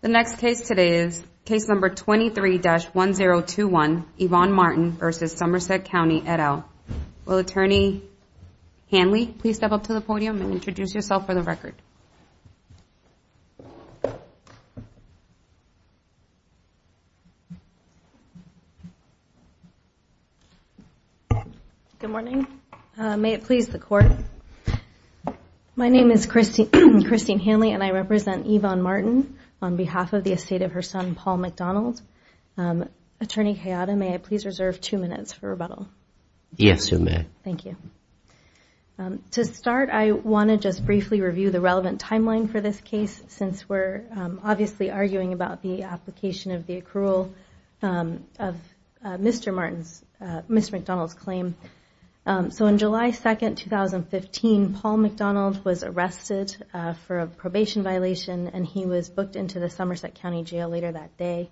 The next case today is case number 23-1021, Yvonne Martin v. Somerset County, et al. Will Attorney Hanley please step up to the podium and introduce yourself for the record? Good morning. May it please the Court. My name is Christine Hanley and I represent Yvonne Martin on behalf of the estate of her son, Paul McDonald. Attorney Hayata, may I please reserve two minutes for rebuttal? Yes, you may. Thank you. To start, I want to just briefly review the relevant timeline for this case, since we're obviously arguing about the application of the accrual of Mr. McDonald's claim. So on July 2, 2015, Paul McDonald was arrested for a probation violation and he was booked into the Somerset County Jail later that day.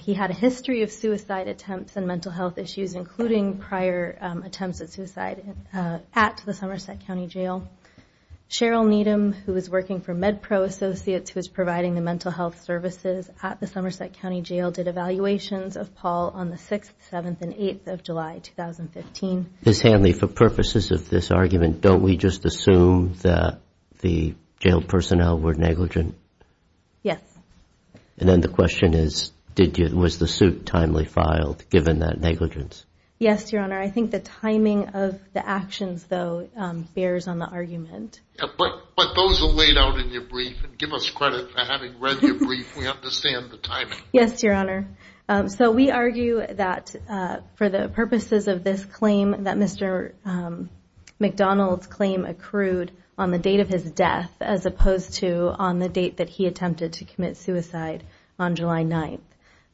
He had a history of suicide attempts and mental health issues, including prior attempts at suicide at the Somerset County Jail. Cheryl Needham, who was working for MedPro Associates, who was providing the mental health services at the Somerset County Jail, did evaluations of Paul on the 6th, 7th, and 8th of July, 2015. Ms. Hanley, for purposes of this argument, don't we just assume that the jail personnel were negligent? Yes. And then the question is, was the suit timely filed, given that negligence? Yes, Your Honor. I think the timing of the actions, though, bears on the argument. But those are laid out in your brief, and give us credit for having read your brief. We understand the timing. Yes, Your Honor. So we argue that for the purposes of this claim, that Mr. McDonald's claim accrued on the date of his death, as opposed to on the date that he attempted to commit suicide on July 9th.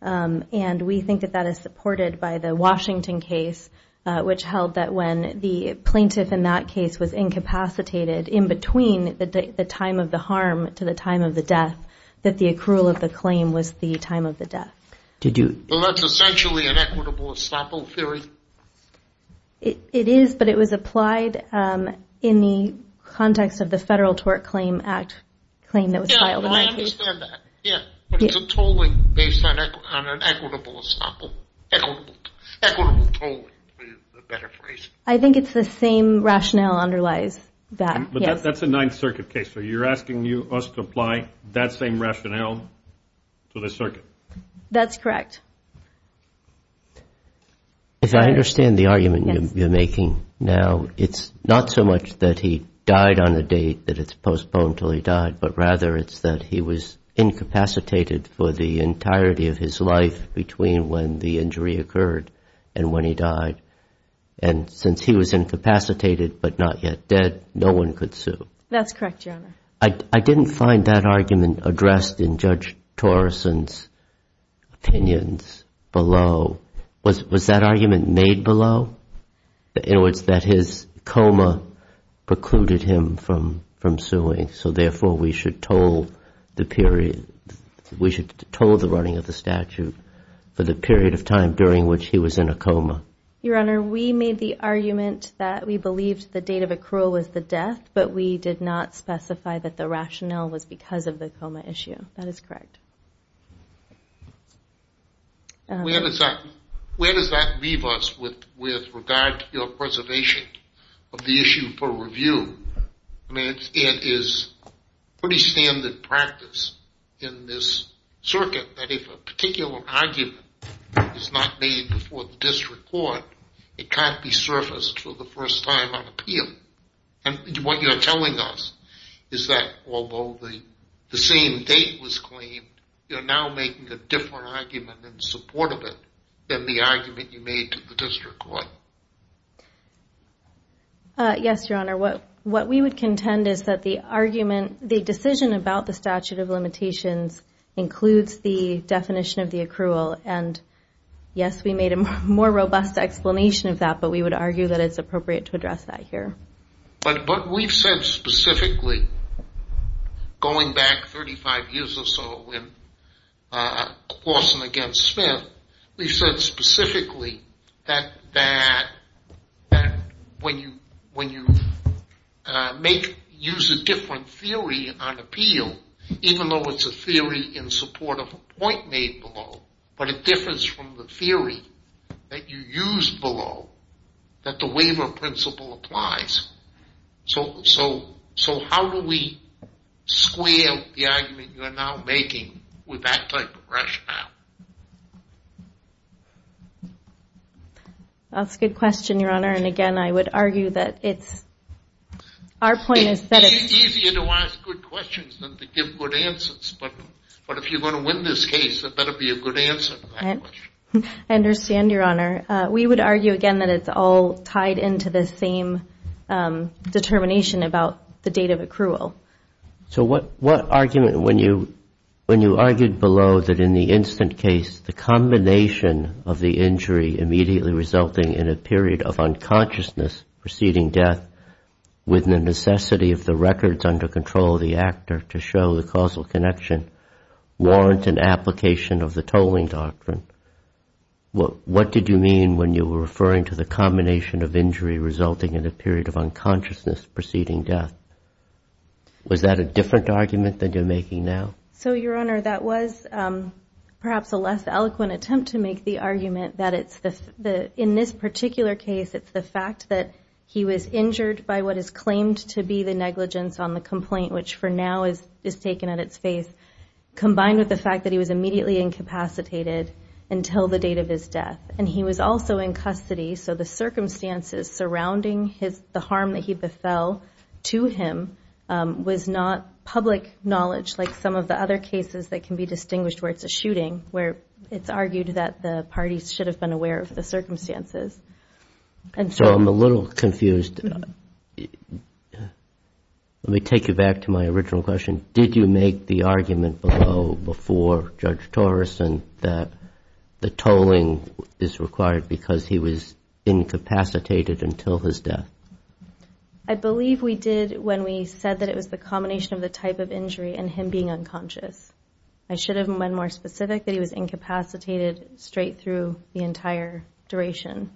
And we think that that is supported by the Washington case, which held that when the plaintiff in that case was incapacitated in between the time of the harm to the time of the death, that the accrual of the claim was the time of the death. Well, that's essentially an equitable estoppel theory. It is, but it was applied in the context of the Federal Tort Claim Act claim that was filed. Yeah, I understand that. But it's a tolling based on an equitable estoppel. Equitable tolling is a better phrase. I think it's the same rationale underlies that, yes. But that's a Ninth Circuit case, so you're asking us to apply, that same rationale to the circuit. That's correct. If I understand the argument you're making now, it's not so much that he died on a date that it's postponed until he died, but rather it's that he was incapacitated for the entirety of his life between when the injury occurred and when he died. And since he was incapacitated but not yet dead, no one could sue. That's correct, Your Honor. I didn't find that argument addressed in Judge Torrison's opinions below. Was that argument made below? In other words, that his coma precluded him from suing, so therefore we should toll the running of the statute for the period of time during which he was in a coma. Your Honor, we made the argument that we believed the date of accrual was the death, but we did not specify that the rationale was because of the coma issue. That is correct. Where does that leave us with regard to your preservation of the issue for review? I mean, it is pretty standard practice in this circuit that if a particular argument is not made before the district court, it can't be surfaced for the first time on appeal. And what you're telling us is that although the same date was claimed, you're now making a different argument in support of it than the argument you made to the district court. Yes, Your Honor. What we would contend is that the decision about the statute of limitations includes the definition of the accrual. And yes, we made a more robust explanation of that, but we would argue that it's appropriate to address that here. But we've said specifically, going back 35 years or so in Clawson against Smith, we've said specifically that when you use a different theory on appeal, even though it's a theory in support of a point made below, but it differs from the theory that you use below that the waiver principle applies. So how do we square the argument you're now making with that type of rationale? That's a good question, Your Honor. And again, I would argue that it's... It's easier to ask good questions than to give good answers. But if you're going to win this case, it better be a good answer. I understand, Your Honor. We would argue, again, that it's all tied into the same determination about the date of accrual. So what argument when you argued below that in the instant case, the combination of the injury immediately resulting in a period of unconsciousness preceding death with the necessity of the records under control of the actor to show the causal connection warrant an application of the tolling doctrine, what did you mean when you were referring to the combination of injury resulting in a period of unconsciousness preceding death? Was that a different argument than you're making now? So, Your Honor, that was perhaps a less eloquent attempt to make the argument that it's the... by what is claimed to be the negligence on the complaint, which for now is taken at its face, combined with the fact that he was immediately incapacitated until the date of his death. And he was also in custody, so the circumstances surrounding the harm that he befell to him was not public knowledge like some of the other cases that can be distinguished where it's a shooting, where it's argued that the parties should have been aware of the circumstances. So I'm a little confused. Let me take you back to my original question. Did you make the argument below before Judge Torreson that the tolling is required because he was incapacitated until his death? I believe we did when we said that it was the combination of the type of injury and him being unconscious. I should have been more specific that he was incapacitated straight through the entire duration.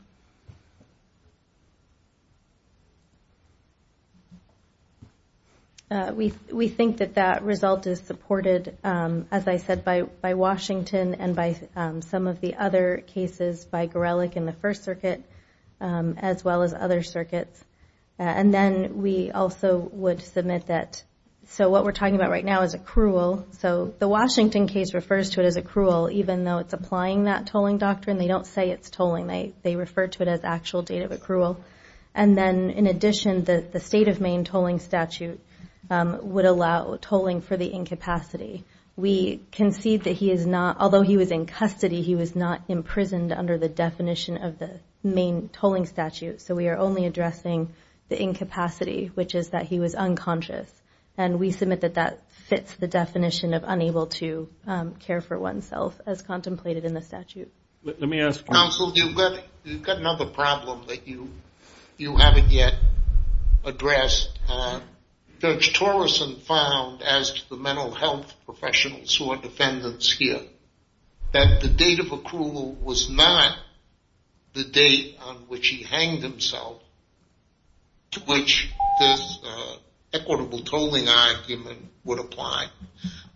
We think that that result is supported, as I said, by Washington and by some of the other cases by Gorelick in the First Circuit, as well as other circuits. And then we also would submit that, so what we're talking about right now is accrual. So the Washington case refers to it as accrual, even though it's applying that tolling doctrine. They don't say it's tolling. They refer to it as actual date of accrual. And then, in addition, the state of Maine tolling statute would allow tolling for the incapacity. We concede that he is not, although he was in custody, he was not imprisoned under the definition of the Maine tolling statute. So we are only addressing the incapacity, which is that he was unconscious. And we submit that that fits the definition of unable to care for oneself, as contemplated in the statute. Let me ask counsel, you've got another problem that you haven't yet addressed. Judge Torrison found, as the mental health professionals who are defendants here, that the date of accrual was not the date on which he hanged himself, to which this equitable tolling argument would apply,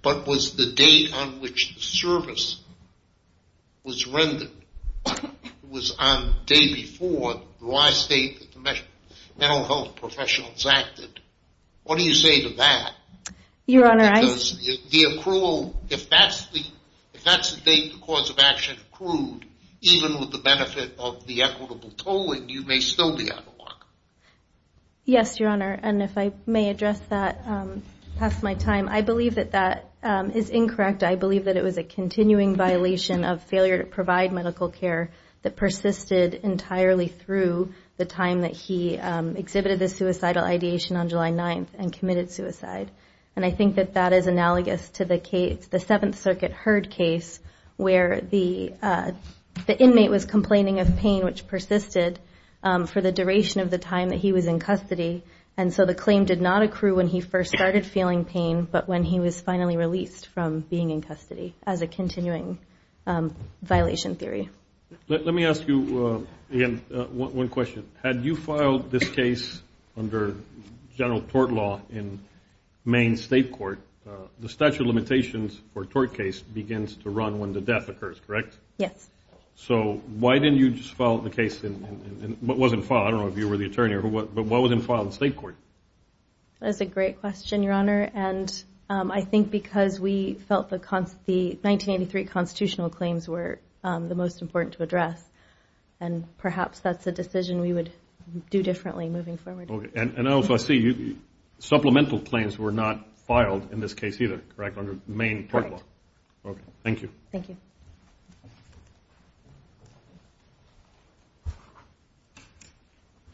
but was the date on which the service was rendered. It was on the day before the last date that the mental health professionals acted. What do you say to that? Your Honor, I... Because the accrual, if that's the date the cause of action accrued, even with the benefit of the equitable tolling, you may still be out of luck. Yes, Your Honor, and if I may address that past my time, I believe that that is incorrect. I believe that it was a continuing violation of failure to provide medical care that persisted entirely through the time that he exhibited the suicidal ideation on July 9th and committed suicide. And I think that that is analogous to the Seventh Circuit Heard case where the inmate was complaining of pain which persisted for the duration of the time that he was in custody. And so the claim did not accrue when he first started feeling pain, but when he was finally released from being in custody as a continuing violation theory. Let me ask you, again, one question. Had you filed this case under general tort law in Maine State Court, the statute of limitations for a tort case begins to run when the death occurs, correct? Yes. So why didn't you just file the case in what wasn't filed? I don't know if you were the attorney, but what wasn't filed in State Court? That's a great question, Your Honor, and I think because we felt the 1983 constitutional claims were the most important to address, and perhaps that's a decision we would do differently moving forward. Okay. And also I see supplemental claims were not filed in this case either, correct, under Maine tort law? Correct. Okay. Thank you. Thank you.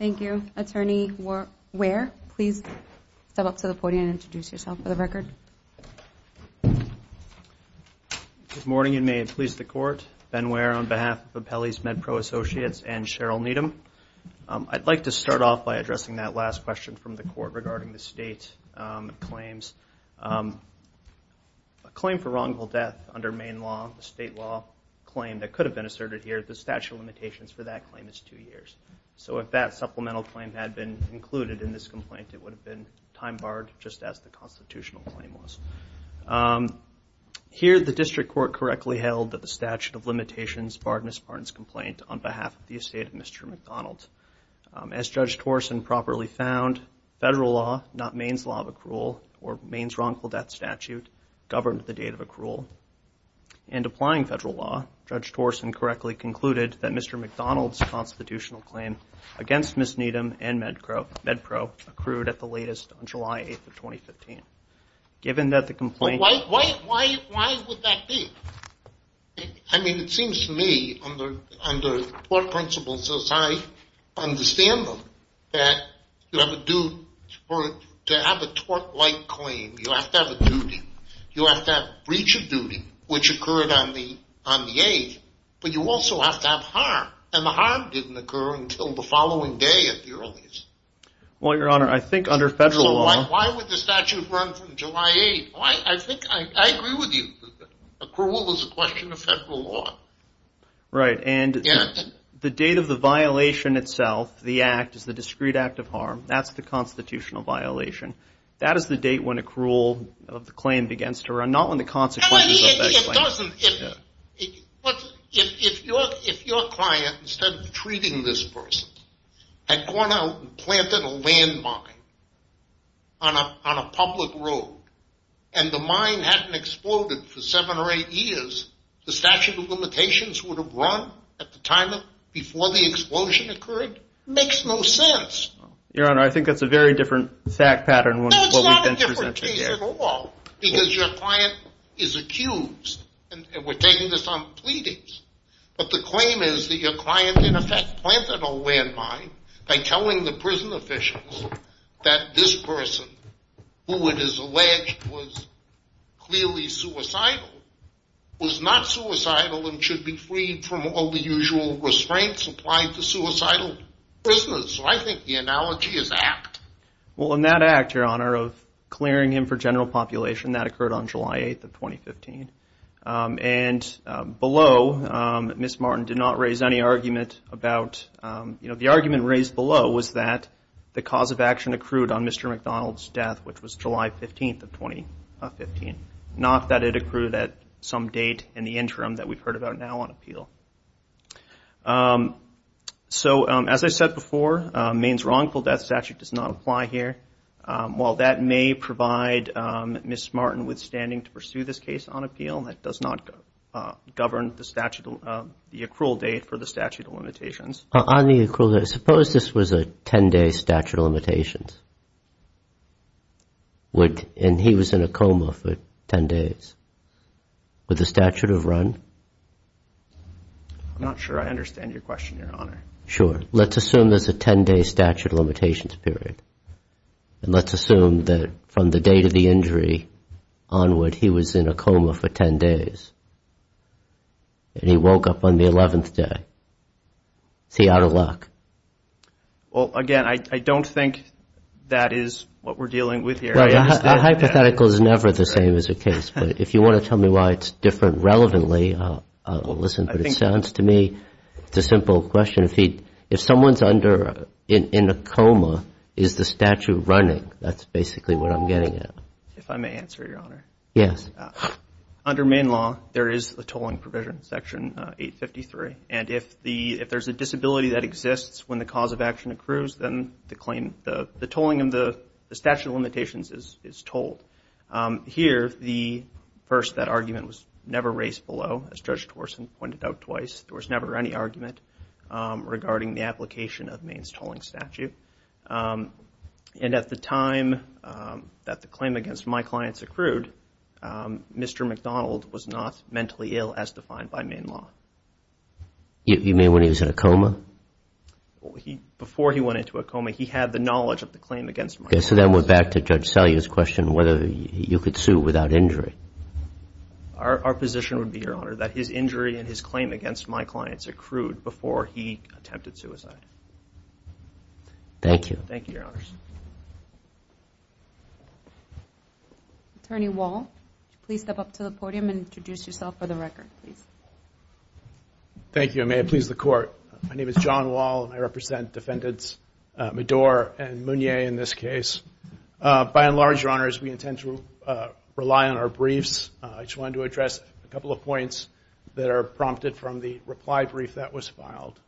Thank you. Attorney Ware, please step up to the podium and introduce yourself for the record. Good morning, and may it please the Court. Ben Ware on behalf of Pepele's MedPro Associates and Cheryl Needham. I'd like to start off by addressing that last question from the Court regarding the state claims. A claim for wrongful death under Maine law, a state law claim that could have been asserted here, the statute of limitations for that claim is two years. So if that supplemental claim had been included in this complaint, it would have been time barred just as the constitutional claim was. Here the District Court correctly held that the statute of limitations barred Ms. Barnes' complaint on behalf of the estate of Mr. McDonald. As Judge Torson properly found, federal law, not Maine's law of accrual, or Maine's wrongful death statute, governed the date of accrual. And applying federal law, Judge Torson correctly concluded that Mr. McDonald's constitutional claim against Ms. Needham and MedPro accrued at the latest on July 8th of 2015. Given that the complaint... Why would that be? I mean, it seems to me, under court principles as I understand them, that to have a tort-like claim, you have to have a duty. You have to have a breach of duty, which occurred on the 8th, but you also have to have harm, and the harm didn't occur until the following day at the earliest. Well, Your Honor, I think under federal law... So why would the statute run from July 8th? I think I agree with you. Accrual is a question of federal law. Right, and the date of the violation itself, the act, is the discrete act of harm. That's the constitutional violation. That is the date when accrual of the claim begins to run, not when the consequences of that claim... If your client, instead of treating this person, had gone out and planted a landmine on a public road, and the mine hadn't exploded for seven or eight years, the statute of limitations would have run at the time before the explosion occurred? It makes no sense. Your Honor, I think that's a very different fact pattern... No, it's not a different case at all, because your client is accused, and we're taking this on pleadings, but the claim is that your client, in effect, planted a landmine by telling the prison officials that this person, who it is alleged was clearly suicidal, was not suicidal and should be freed from all the usual restraints applied to suicidal prisoners. So I think the analogy is apt. Well, in that act, Your Honor, of clearing him for general population, that occurred on July 8th of 2015. And below, Ms. Martin did not raise any argument about... The argument raised below was that the cause of action accrued on Mr. McDonald's death, which was July 15th of 2015, not that it accrued at some date in the interim that we've heard about now on appeal. So, as I said before, Maine's wrongful death statute does not apply here. While that may provide Ms. Martin with standing to pursue this case on appeal, that does not govern the accrual date for the statute of limitations. On the accrual date, suppose this was a 10-day statute of limitations, and he was in a coma for 10 days. Would the statute have run? I'm not sure I understand your question, Your Honor. Sure. Let's assume there's a 10-day statute of limitations period. And let's assume that from the date of the injury onward, he was in a coma for 10 days. And he woke up on the 11th day. Is he out of luck? Well, again, I don't think that is what we're dealing with here. A hypothetical is never the same as a case. But if you want to tell me why it's different relevantly, I'll listen. But it sounds to me it's a simple question. If someone's in a coma, is the statute running? That's basically what I'm getting at. If I may answer, Your Honor. Yes. Under Maine law, there is a tolling provision, Section 853. And if there's a disability that exists when the cause of action accrues, then the tolling of the statute of limitations is tolled. Here, first, that argument was never raised below, as Judge Torson pointed out twice. There was never any argument regarding the application of Maine's tolling statute. And at the time that the claim against my clients accrued, Mr. McDonald was not mentally ill as defined by Maine law. You mean when he was in a coma? Before he went into a coma, he had the knowledge of the claim against my clients. Okay. So then we're back to Judge Salyer's question whether you could sue without injury. Our position would be, Your Honor, that his injury and his claim against my clients accrued before he attempted suicide. Thank you. Thank you, Your Honors. Attorney Wall, please step up to the podium and introduce yourself for the record, please. Thank you. And may it please the Court. My name is John Wall, and I represent Defendants Medour and Mounier in this case. By and large, Your Honors, we intend to rely on our briefs. I just wanted to address a couple of points that are prompted from the reply brief that was filed.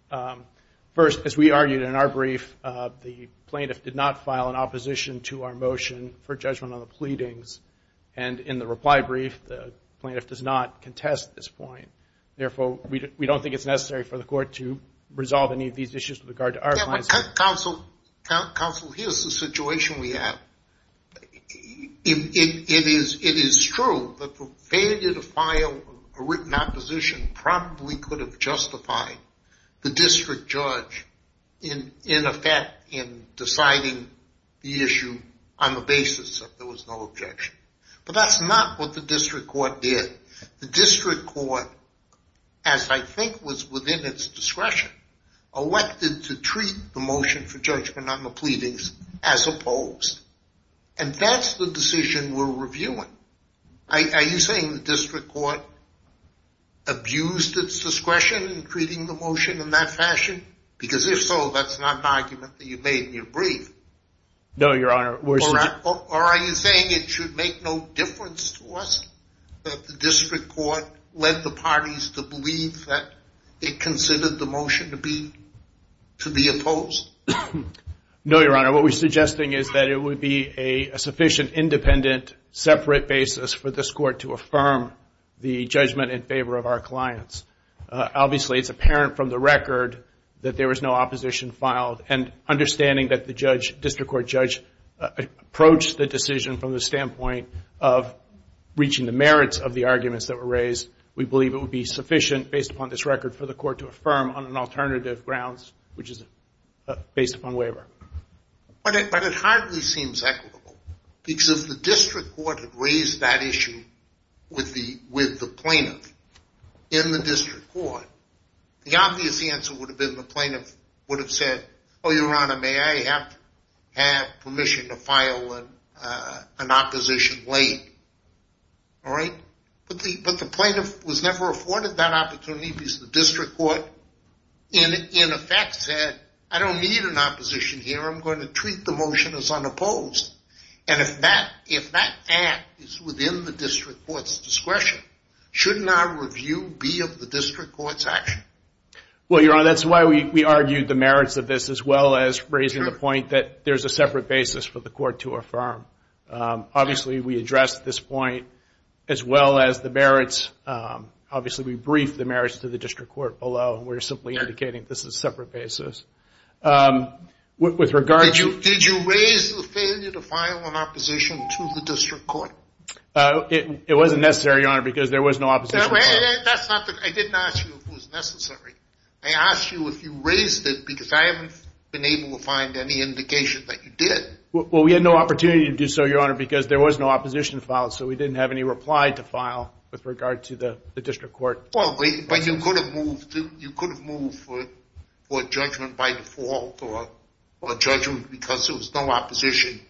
First, as we argued in our brief, the plaintiff did not file an opposition to our motion for judgment on the pleadings. And in the reply brief, the plaintiff does not contest this point. Therefore, we don't think it's necessary for the Court to resolve any of these issues with regard to our clients. Counsel, here's the situation we have. It is true that the failure to file a written opposition probably could have justified the district judge, in effect, in deciding the issue on the basis that there was no objection. But that's not what the district court did. The district court, as I think was within its discretion, elected to treat the motion for judgment on the pleadings as opposed. And that's the decision we're reviewing. Are you saying the district court abused its discretion in treating the motion in that fashion? Because if so, that's not an argument that you made in your brief. No, Your Honor. Or are you saying it should make no difference to us that the district court led the parties to believe that it considered the motion to be opposed? No, Your Honor. What we're suggesting is that it would be a sufficient, independent, separate basis for this court to affirm the judgment in favor of our clients. Obviously, it's apparent from the record that there was no opposition filed. And understanding that the district court judge approached the decision from the standpoint of reaching the merits of the arguments that were raised, we believe it would be sufficient, based upon this record, for the court to affirm on an alternative grounds, which is based upon waiver. But it hardly seems equitable. Because if the district court had raised that issue with the plaintiff in the district court, the obvious answer would have been the plaintiff would have said, Oh, Your Honor, may I have permission to file an opposition late? All right? But the plaintiff was never afforded that opportunity because the district court, in effect, said, I don't need an opposition here. I'm going to treat the motion as unopposed. And if that act is within the district court's discretion, shouldn't our review be of the district court's action? Well, Your Honor, that's why we argued the merits of this, as well as raising the point that there's a separate basis for the court to affirm. Obviously, we addressed this point, as well as the merits. Obviously, we briefed the merits to the district court below, and we're simply indicating this is a separate basis. Did you raise the failure to file an opposition to the district court? It wasn't necessary, Your Honor, because there was no opposition. I didn't ask you if it was necessary. I asked you if you raised it because I haven't been able to find any indication that you did. Well, we had no opportunity to do so, Your Honor, because there was no opposition filed. So we didn't have any reply to file with regard to the district court. Well, but you could have moved for judgment by default or judgment because there was no opposition,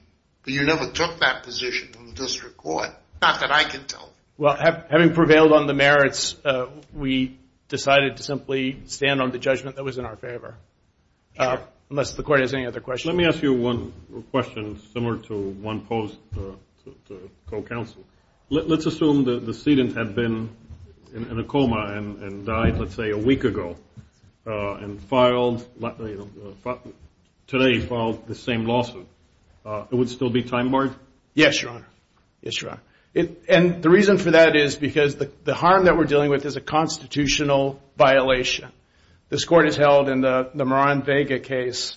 but you never took that position from the district court, not that I can tell you. Well, having prevailed on the merits, we decided to simply stand on the judgment that was in our favor, unless the court has any other questions. Let me ask you one question similar to one posed to the co-counsel. Let's assume the sedent had been in a coma and died, let's say, a week ago and filed the same lawsuit. It would still be time-barred? Yes, Your Honor. Yes, Your Honor. And the reason for that is because the harm that we're dealing with is a constitutional violation. This Court has held in the Moran-Vega case,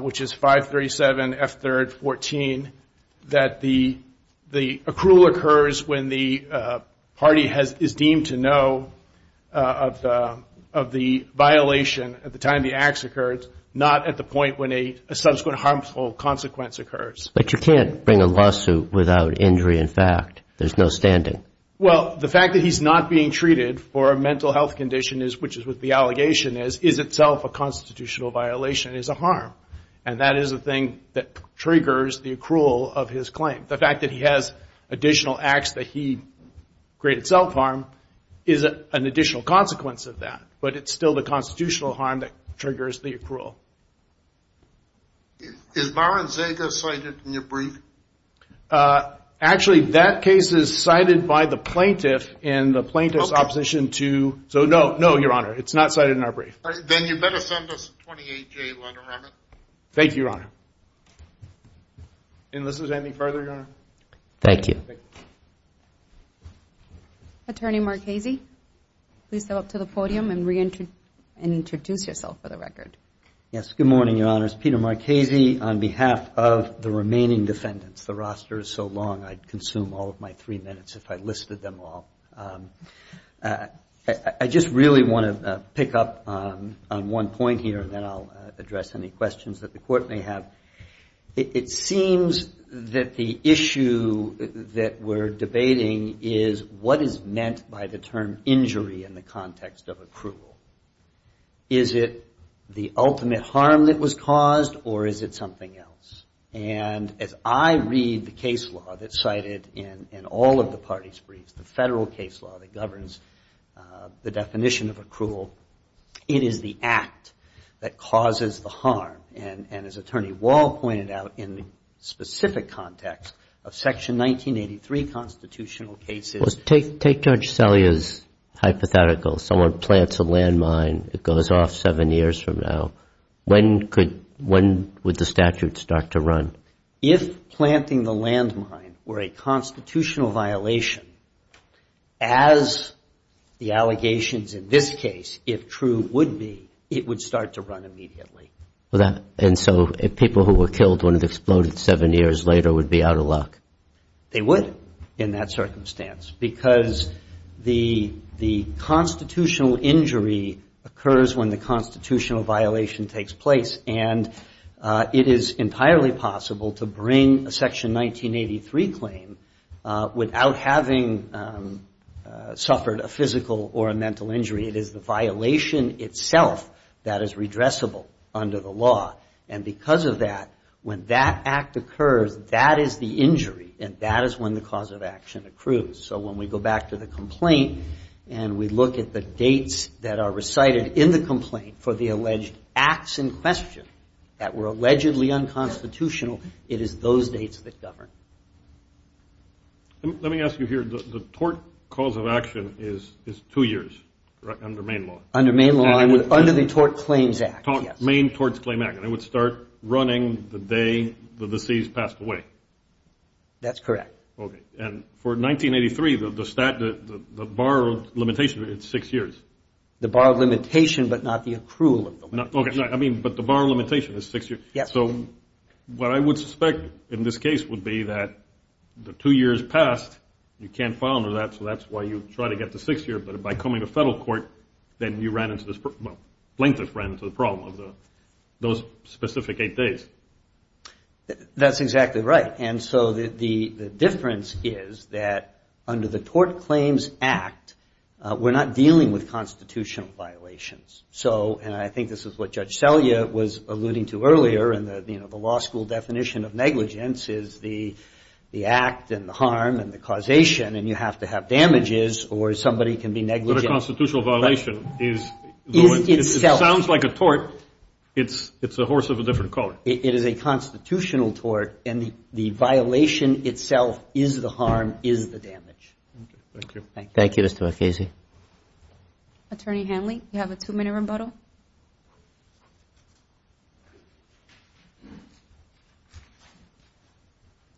which is 537F3-14, that the accrual occurs when the party is deemed to know of the violation at the time the acts occurred, not at the point when a subsequent harmful consequence occurs. But you can't bring a lawsuit without injury in fact. There's no standing. Well, the fact that he's not being treated for a mental health condition, which is what the allegation is, is itself a constitutional violation. It is a harm, and that is the thing that triggers the accrual of his claim. The fact that he has additional acts that he created self-harm is an additional consequence of that, but it's still the constitutional harm that triggers the accrual. Is Moran-Vega cited in your brief? Actually, that case is cited by the plaintiff in the plaintiff's opposition to... So, no, no, Your Honor. It's not cited in our brief. Then you better send us a 28-J letter on it. Thank you, Your Honor. Enlist us any further, Your Honor? Thank you. Attorney Marchese, please step up to the podium and reintroduce yourself for the record. Yes, good morning, Your Honors. Peter Marchese on behalf of the remaining defendants. The roster is so long I'd consume all of my three minutes if I listed them all. I just really want to pick up on one point here, and then I'll address any questions that the Court may have. It seems that the issue that we're debating is what is meant by the term injury in the context of accrual. Is it the ultimate harm that was caused, or is it something else? And as I read the case law that's cited in all of the parties' briefs, the Federal case law that governs the definition of accrual, it is the act that causes the harm. And as Attorney Wall pointed out, in the specific context of Section 1983 constitutional cases... seven years from now, when would the statute start to run? If planting the landmine were a constitutional violation, as the allegations in this case, if true, would be, it would start to run immediately. And so if people who were killed when it exploded seven years later would be out of luck? They would, in that circumstance, because the constitutional injury occurs when the constitutional violation takes place. And it is entirely possible to bring a Section 1983 claim without having suffered a physical or a mental injury. It is the violation itself that is redressable under the law. And because of that, when that act occurs, that is the injury, and that is when the cause of action accrues. So when we go back to the complaint and we look at the dates that are recited in the complaint for the alleged acts in question that were allegedly unconstitutional, it is those dates that govern. Let me ask you here. The tort cause of action is two years under Maine law. And it would start running the day the deceased passed away? That is correct. Okay. And for 1983, the borrowed limitation is six years? The borrowed limitation, but not the accrual of the limitation. Okay. But the borrowed limitation is six years. Yes. So what I would suspect in this case would be that the two years passed, you can't file under that, so that's why you try to get to six years, but by coming to federal court, then you ran into this, well, length of ran into the problem of those specific eight days. That's exactly right. And so the difference is that under the Tort Claims Act, we're not dealing with constitutional violations. So, and I think this is what Judge Selya was alluding to earlier, and the law school definition of negligence is the act and the harm and the causation, and you have to have damages or somebody can be negligent. But a constitutional violation is. Is itself. It sounds like a tort. It's a horse of a different color. It is a constitutional tort, and the violation itself is the harm, is the damage. Okay. Thank you. Thank you. Thank you, Mr. MacKenzie. Attorney Hanley, you have a two-minute rebuttal. Thank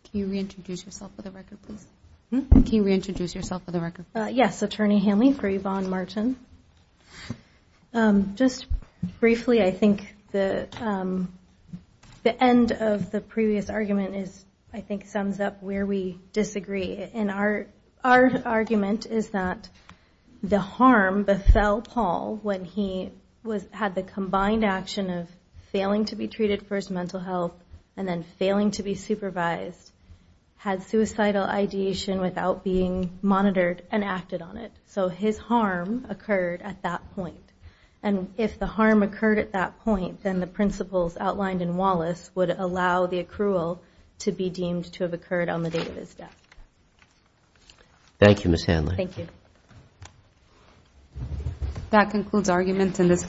you. Can you reintroduce yourself for the record, please? Can you reintroduce yourself for the record? Yes. Attorney Hanley for Yvonne Martin. Just briefly, I think the end of the previous argument is, I think, sums up where we disagree. And our argument is that the harm befell Paul when he had the combined action of failing to be treated for his mental health and then failing to be supervised, had suicidal ideation without being monitored and acted on it. So his harm occurred at that point. And if the harm occurred at that point, then the principles outlined in Wallace would allow the accrual to be deemed to have occurred on the date of his death. Thank you, Ms. Hanley. Thank you. That concludes arguments in this case.